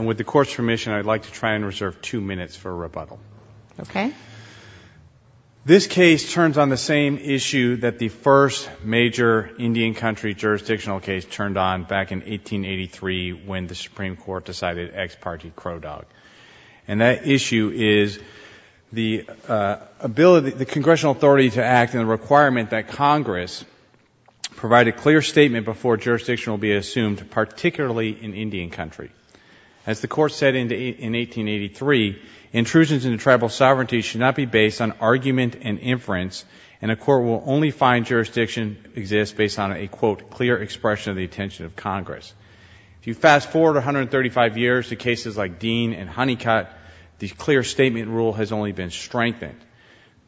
with the court's permission, I'd like to try and reserve two minutes for rebuttal. This case turns on the same issue that the first major Indian country jurisdictional case turned on back in 1883 when the Supreme Court decided ex parte Crow Dog. And that issue is the ability, the congressional authority to act and the requirement that Congress provide a clear statement before jurisdiction will be assumed, particularly in Indian country. As the court said in 1883, intrusions into tribal sovereignty should not be based on argument and inference and a court will only find jurisdiction exists based on a, quote, clear expression of the intention of Congress. If you fast forward 135 years to cases like Dean and Honeycutt, the clear statement rule has only been strengthened.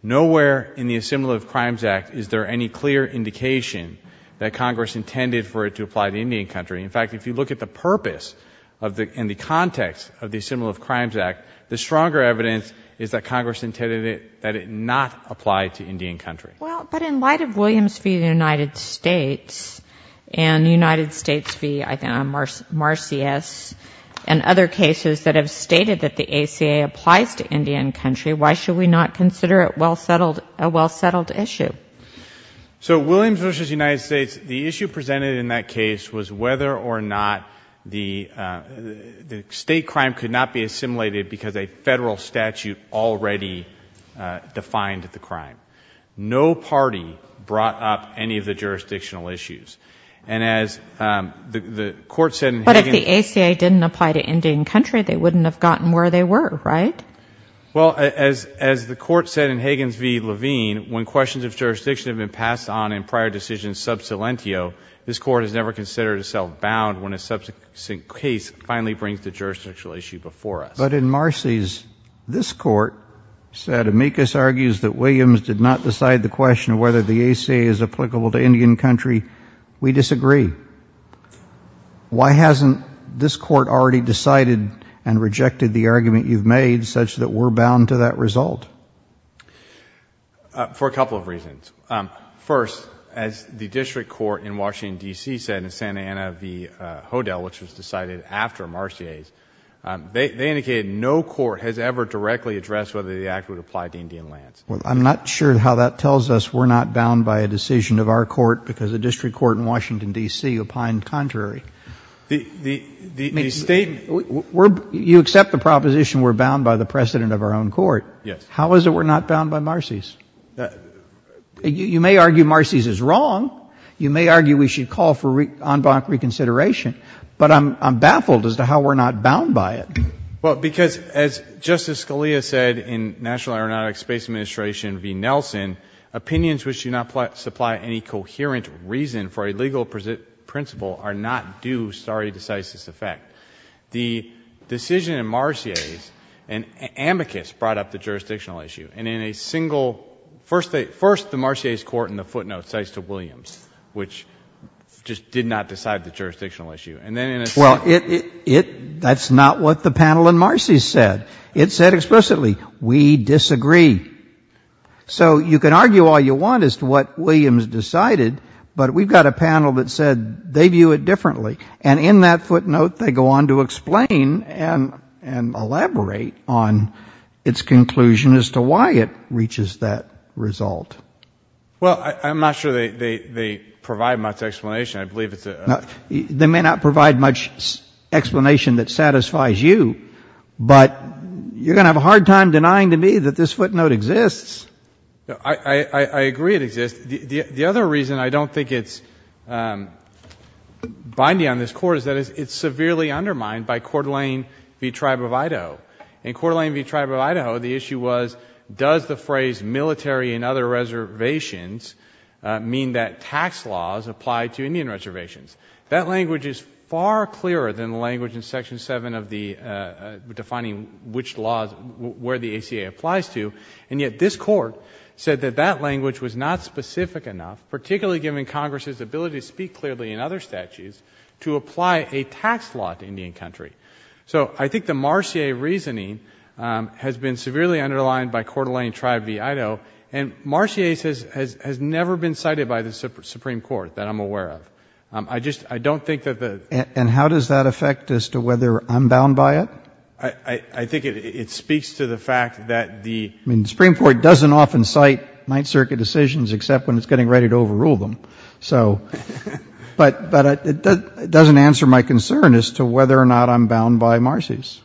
Nowhere in the Assembly of Crimes Act is there any clear indication that Congress intended for it to apply to Indian country. In fact, if you look at the purpose and the context of the Assembly of Crimes Act, the stronger evidence is that Congress intended that it not apply to Indian country. Well, but in light of Williams v. United States and United States v. Marcius and other cases that have stated that the ACA applies to Indian country, why should we not consider it a well-settled issue? So Williams v. United States, the issue presented in that case was whether or not the state crime could not be assimilated because a Federal statute already defined the crime. No party brought up any of the jurisdictional issues. And as the court said in Higgins v. Levine. But if the ACA didn't apply to Indian country, they wouldn't have gotten where they were, right? Well, as the court said in Higgins v. Levine, when questions of jurisdiction have been passed on in prior decisions this Court has never considered itself bound when a subsequent case finally brings the jurisdictional issue before us. But in Marcius, this Court said Amicus argues that Williams did not decide the question of whether the ACA is applicable to Indian country. We disagree. Why hasn't this Court already decided and rejected the argument you've made such that we're bound to that result? For a couple of reasons. First, as the district court in Washington, D.C. said in Santa Ana v. Hodel, which was decided after Marcius, they indicated no court has ever directly addressed whether the act would apply to Indian lands. Well, I'm not sure how that tells us we're not bound by a decision of our court because the district court in Washington, D.C. opined contrary. The State. You accept the proposition we're bound by the precedent of our own court. Yes. How is it we're not bound by Marcius? You may argue Marcius is wrong. You may argue we should call for en banc reconsideration. But I'm baffled as to how we're not bound by it. Well, because as Justice Scalia said in National Aeronautics Space Administration v. Nelson, opinions which do not supply any coherent reason for a legal principle are not due stare decisis effect. The decision in Marcius and Amicus brought up the jurisdictional issue. And in a single, first the Marcius court in the footnote says to Williams, which just did not decide the jurisdictional issue. Well, that's not what the panel in Marcius said. It said explicitly, we disagree. So you can argue all you want as to what Williams decided, but we've got a panel that said they view it differently. And in that footnote, they go on to explain and elaborate on its conclusion as to why it reaches that result. Well, I'm not sure they provide much explanation. I believe it's a. They may not provide much explanation that satisfies you, but you're going to have a hard time denying to me that this footnote exists. I agree it exists. The other reason I don't think it's binding on this Court is that it's severely undermined by Coeur d'Alene v. Tribe of Idaho. In Coeur d'Alene v. Tribe of Idaho, the issue was, does the phrase military and other reservations mean that tax laws apply to Indian reservations? That language is far clearer than the language in Section 7 of the, defining which laws, where the ACA applies to. And yet this Court said that that language was not specific enough, particularly given Congress's ability to speak clearly in other statutes, to apply a tax law to Indian country. So I think the Marcier reasoning has been severely underlined by Coeur d'Alene v. Tribe of Idaho, and Marcier has never been cited by the Supreme Court that I'm aware of. I just, I don't think that the. And how does that affect as to whether I'm bound by it? Well, I think it speaks to the fact that the. I mean, the Supreme Court doesn't often cite Ninth Circuit decisions except when it's getting ready to overrule them. So, but it doesn't answer my concern as to whether or not I'm bound by Marcier's.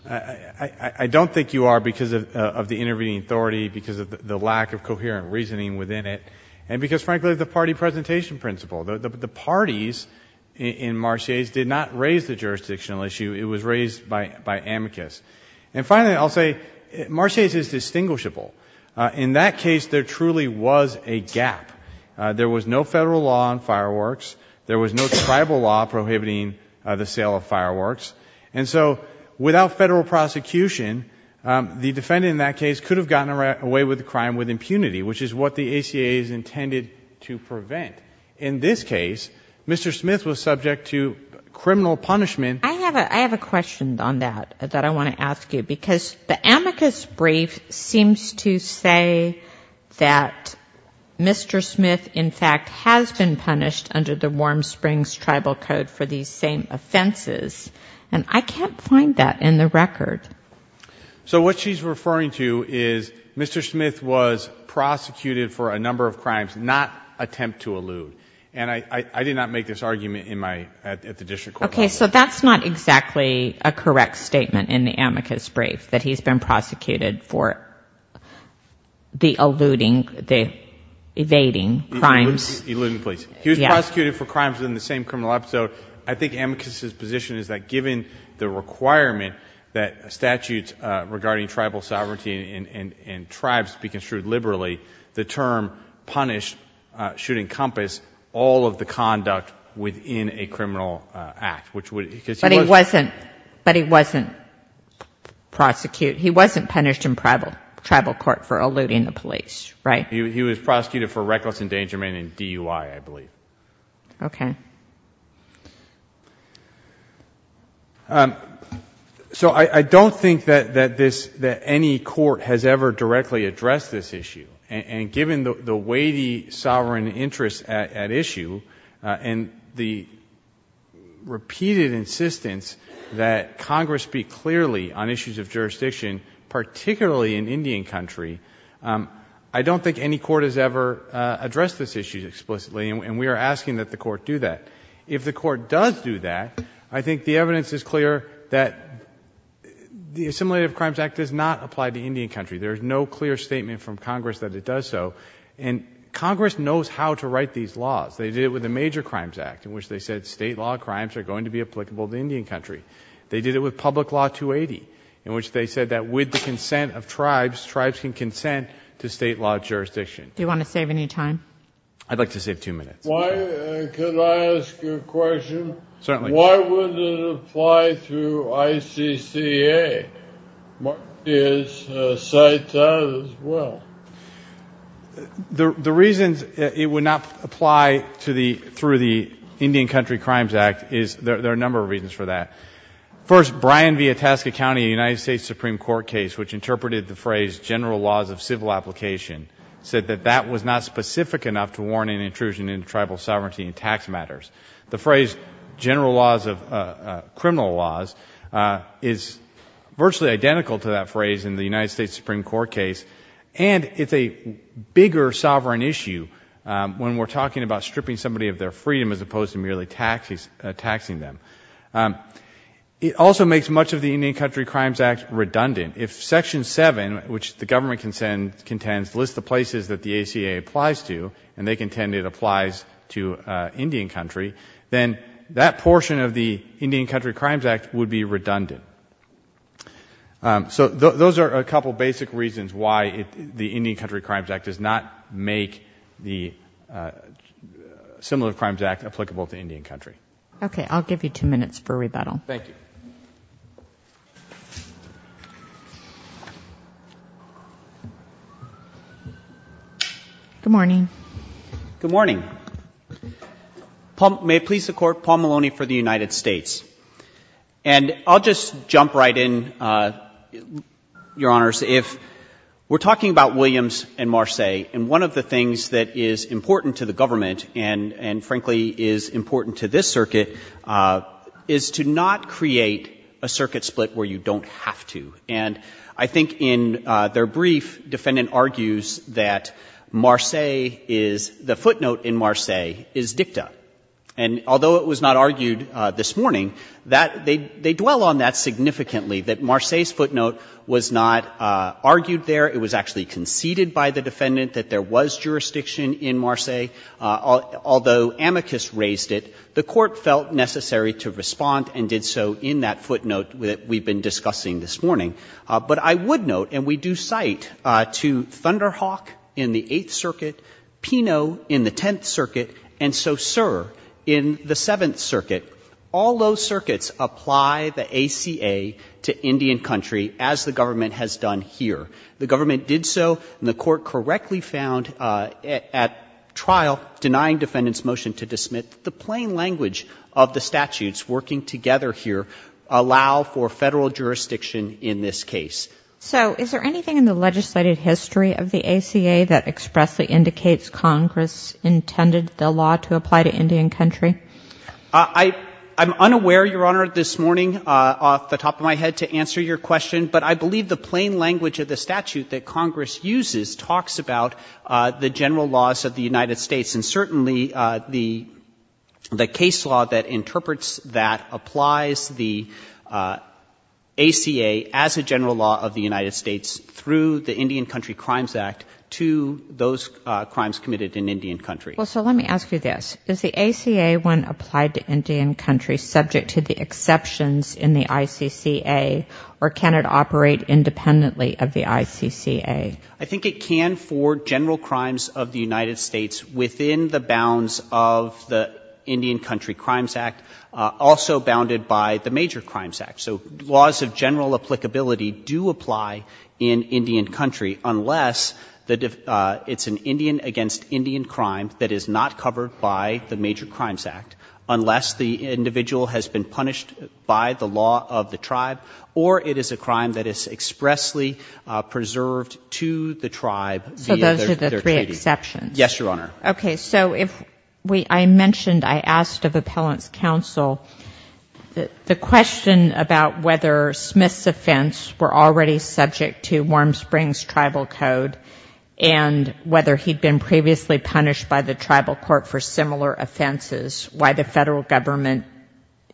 I don't think you are because of the intervening authority, because of the lack of coherent reasoning within it, and because, frankly, of the party presentation principle. The parties in Marcier's did not raise the jurisdictional issue. It was raised by amicus. And finally, I'll say Marcier's is distinguishable. In that case, there truly was a gap. There was no federal law on fireworks. There was no tribal law prohibiting the sale of fireworks. And so without federal prosecution, the defendant in that case could have gotten away with the crime with impunity, which is what the ACA is intended to prevent. In this case, Mr. Smith was subject to criminal punishment. I have a question on that, that I want to ask you. Because the amicus brief seems to say that Mr. Smith, in fact, has been punished under the Warm Springs Tribal Code for these same offenses. And I can't find that in the record. So what she's referring to is Mr. Smith was prosecuted for a number of crimes, not attempt to elude. And I did not make this argument in my, at the district court level. Okay. So that's not exactly a correct statement in the amicus brief, that he's been prosecuted for the eluding, the evading crimes. Eluding, please. He was prosecuted for crimes within the same criminal episode. I think amicus's position is that given the requirement that statutes regarding tribal sovereignty and tribes be construed liberally, the term punished should encompass all of the conduct within a criminal act. But he wasn't prosecuted. He wasn't punished in tribal court for eluding the police, right? He was prosecuted for reckless endangerment in DUI, I believe. Okay. So I don't think that any court has ever directly addressed this issue. And given the weighty sovereign interest at issue and the repeated insistence that Congress speak clearly on issues of jurisdiction, particularly in Indian country, I don't think any court has ever addressed this issue explicitly. And we are asking that the court do that. If the court does do that, I think the evidence is clear that the Assimilative Crimes Act does not apply to Indian country. There is no clear statement from Congress that it does so. And Congress knows how to write these laws. They did it with the Major Crimes Act, in which they said state law crimes are going to be applicable to Indian country. They did it with Public Law 280, in which they said that with the consent of tribes, tribes can consent to state law jurisdiction. Do you want to save any time? I'd like to save two minutes. Can I ask a question? Certainly. Why wouldn't it apply through ICCA? It cites that as well. The reasons it would not apply through the Indian Country Crimes Act is there are a number of reasons for that. First, Brian Vietasca County, a United States Supreme Court case which interpreted the phrase general laws of civil application, said that that was not specific enough to warrant an intrusion into tribal sovereignty and tax matters. The phrase general laws of criminal laws is virtually identical to that phrase in the United States Supreme Court case, and it's a bigger sovereign issue when we're talking about stripping somebody of their freedom as opposed to merely taxing them. It also makes much of the Indian Country Crimes Act redundant. If Section 7, which the government contends, lists the places that the ACA applies to, and they contend it applies to Indian Country, then that portion of the Indian Country Crimes Act would be redundant. So those are a couple of basic reasons why the Indian Country Crimes Act does not make the Similar Crimes Act applicable to Indian Country. Okay. I'll give you two minutes for rebuttal. Thank you. Good morning. Good morning. May it please the Court, Paul Maloney for the United States. And I'll just jump right in, Your Honors. If we're talking about Williams and Marseilles, and one of the things that is important to the government and, frankly, is important to this circuit, is to not create a circuit split where you don't have to. And I think in their brief, defendant argues that Marseilles is the footnote in Marseilles is dicta. And although it was not argued this morning, they dwell on that significantly, that Marseilles' footnote was not argued there. It was actually conceded by the defendant that there was jurisdiction in Marseilles. Although amicus raised it, the Court felt necessary to respond and did so in that footnote that we've been discussing this morning. But I would note, and we do cite to Thunderhawk in the Eighth Circuit, Pino in the Tenth Circuit, and Saussure in the Seventh Circuit, all those circuits apply the ACA to Indian Country as the government has done here. The government did so, and the Court correctly found at trial, denying defendant's motion to dismiss, the plain language of the statutes working together here allow for Federal jurisdiction in this case. So is there anything in the legislated history of the ACA that expressly indicates Congress intended the law to apply to Indian Country? I'm unaware, Your Honor, this morning off the top of my head to answer your question, but I believe the plain language of the statute that Congress uses talks about the general laws of the United States, and certainly the case law that interprets that applies the ACA as a general law of the United States through the Indian Country Crimes Act to those crimes committed in Indian Country. Well, so let me ask you this. Does the ACA, when applied to Indian Country, subject to the exceptions in the ICCA, or can it operate independently of the ICCA? I think it can for general crimes of the United States within the bounds of the Indian Country Crimes Act, also bounded by the Major Crimes Act. So laws of general applicability do apply in Indian Country, unless it's an Indian against Indian crime that is not covered by the Major Crimes Act, unless the individual has been punished by the law of the tribe, or it is a crime that is expressly preserved to the tribe via their treaty. So those are the three exceptions? Yes, Your Honor. Okay. So if we — I mentioned, I asked of Appellant's counsel the question about whether Smith's offense were already subject to Warm Springs Tribal Code, and whether he'd been previously punished by the tribal court for similar offenses, why the Federal Government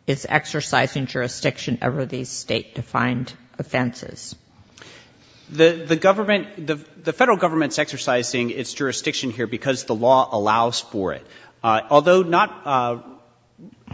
is exercising jurisdiction over these State-defined offenses? The Government — the Federal Government is exercising its jurisdiction here because the law allows for it. Although not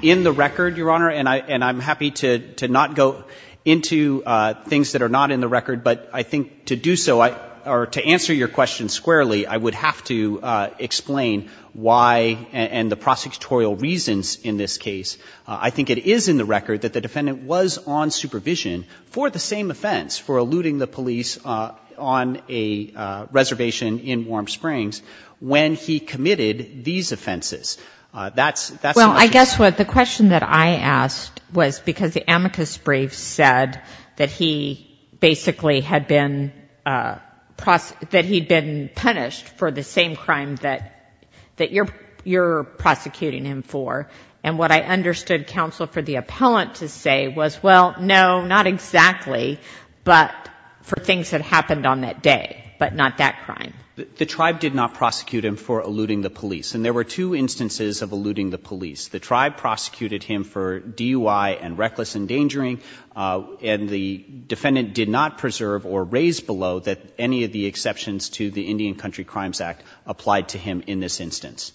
in the record, Your Honor, and I'm happy to not go into things that are not in the record, but I think to do so, or to answer your question squarely, I would have to explain why and the prosecutorial reasons in this case. I think it is in the record that the defendant was on supervision for the same offense, for eluding the police on a reservation in Warm Springs, when he committed these offenses. That's the question. The reason that I asked was because the amicus brief said that he basically had been — that he'd been punished for the same crime that you're prosecuting him for. And what I understood counsel for the appellant to say was, well, no, not exactly, but for things that happened on that day, but not that crime. The tribe did not prosecute him for eluding the police. And there were two instances of eluding the police. The tribe prosecuted him for DUI and reckless endangering, and the defendant did not preserve or raise below that any of the exceptions to the Indian Country Crimes Act applied to him in this instance.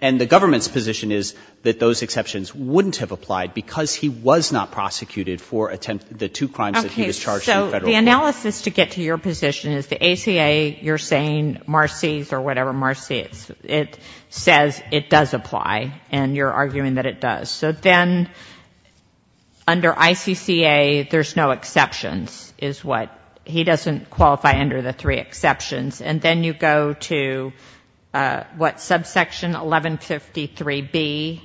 And the government's position is that those exceptions wouldn't have applied because he was not prosecuted for the two crimes that he was charged in federal court. Okay. So the analysis, to get to your position, is the ACA, you're saying Marcy's or whatever, Marcy's. It says it does apply, and you're arguing that it does. So then under ICCA, there's no exceptions, is what — he doesn't qualify under the three exceptions. And then you go to, what, subsection 1153B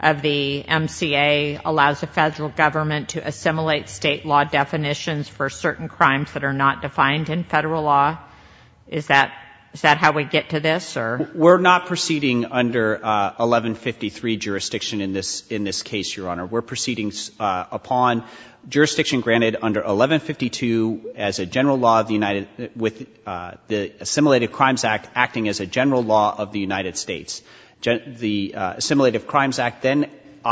of the MCA allows the federal government to assimilate state law definitions for certain crimes that are not defined in federal law? Is that how we get to this? We're not proceeding under 1153 jurisdiction in this case, Your Honor. We're proceeding upon jurisdiction granted under 1152 as a general law of the United — with the Assimilated Crimes Act acting as a general law of the United States. The Assimilated Crimes Act then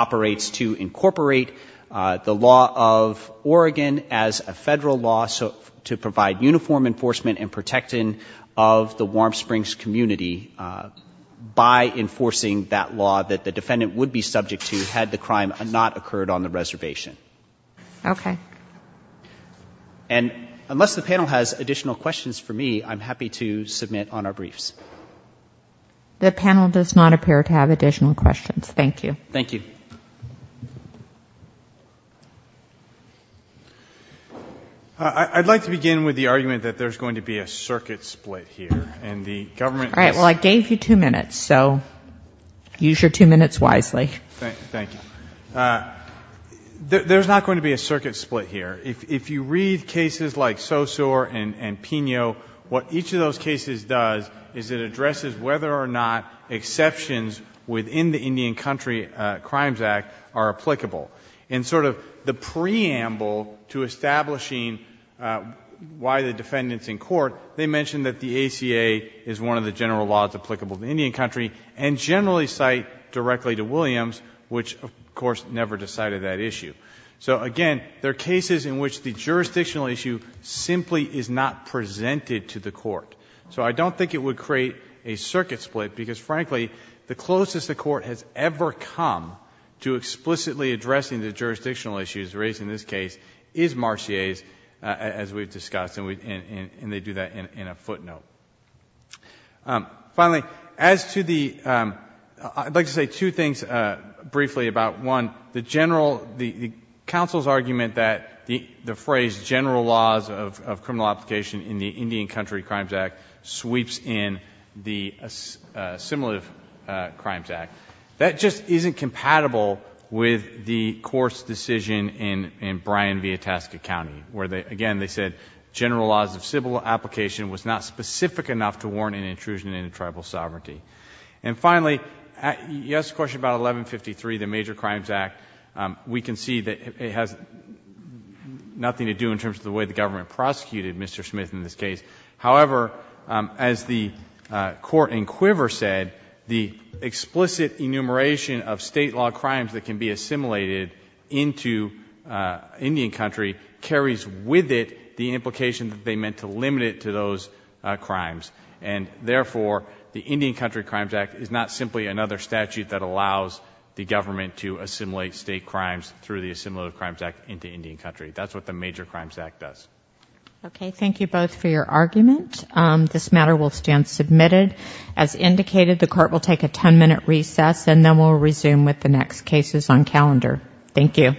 operates to incorporate the law of Oregon as a federal law to provide uniform enforcement and protecting of the Warm Springs community by enforcing that law that the defendant would be subject to had the crime not occurred on the reservation. Okay. And unless the panel has additional questions for me, I'm happy to submit on our briefs. The panel does not appear to have additional questions. Thank you. Thank you. Thank you. I'd like to begin with the argument that there's going to be a circuit split here, and the government is — All right. Well, I gave you two minutes, so use your two minutes wisely. Thank you. There's not going to be a circuit split here. If you read cases like Sosor and Pino, what each of those cases does is it addresses whether or not exceptions within the Indian Country Crimes Act are applicable. In sort of the preamble to establishing why the defendant's in court, they mention that the ACA is one of the general laws applicable to Indian Country and generally cite directly to Williams, which, of course, never decided that issue. So, again, there are cases in which the jurisdictional issue simply is not presented to the court. So I don't think it would create a circuit split because, frankly, the closest the court has ever come to explicitly addressing the jurisdictional issues raised in this case is Marcier's, as we've discussed, and they do that in a footnote. Finally, as to the — I'd like to say two things briefly about, one, the general — the phrase general laws of criminal application in the Indian Country Crimes Act sweeps in the Assimilative Crimes Act. That just isn't compatible with the court's decision in Bryan v. Itasca County where, again, they said general laws of civil application was not specific enough to warrant an intrusion into tribal sovereignty. And finally, you asked a question about 1153, the Major Crimes Act. We can see that it has nothing to do in terms of the way the government prosecuted Mr. Smith in this case. However, as the court in Quiver said, the explicit enumeration of State law crimes that can be assimilated into Indian Country carries with it the implication that they meant to limit it to those crimes. And therefore, the Indian Country Crimes Act is not simply another statute that allows the government to assimilate State crimes through the Assimilative Crimes Act into Indian Country. That's what the Major Crimes Act does. Okay. Thank you both for your argument. This matter will stand submitted. As indicated, the court will take a 10-minute recess, and then we'll resume with the next cases on calendar. Thank you.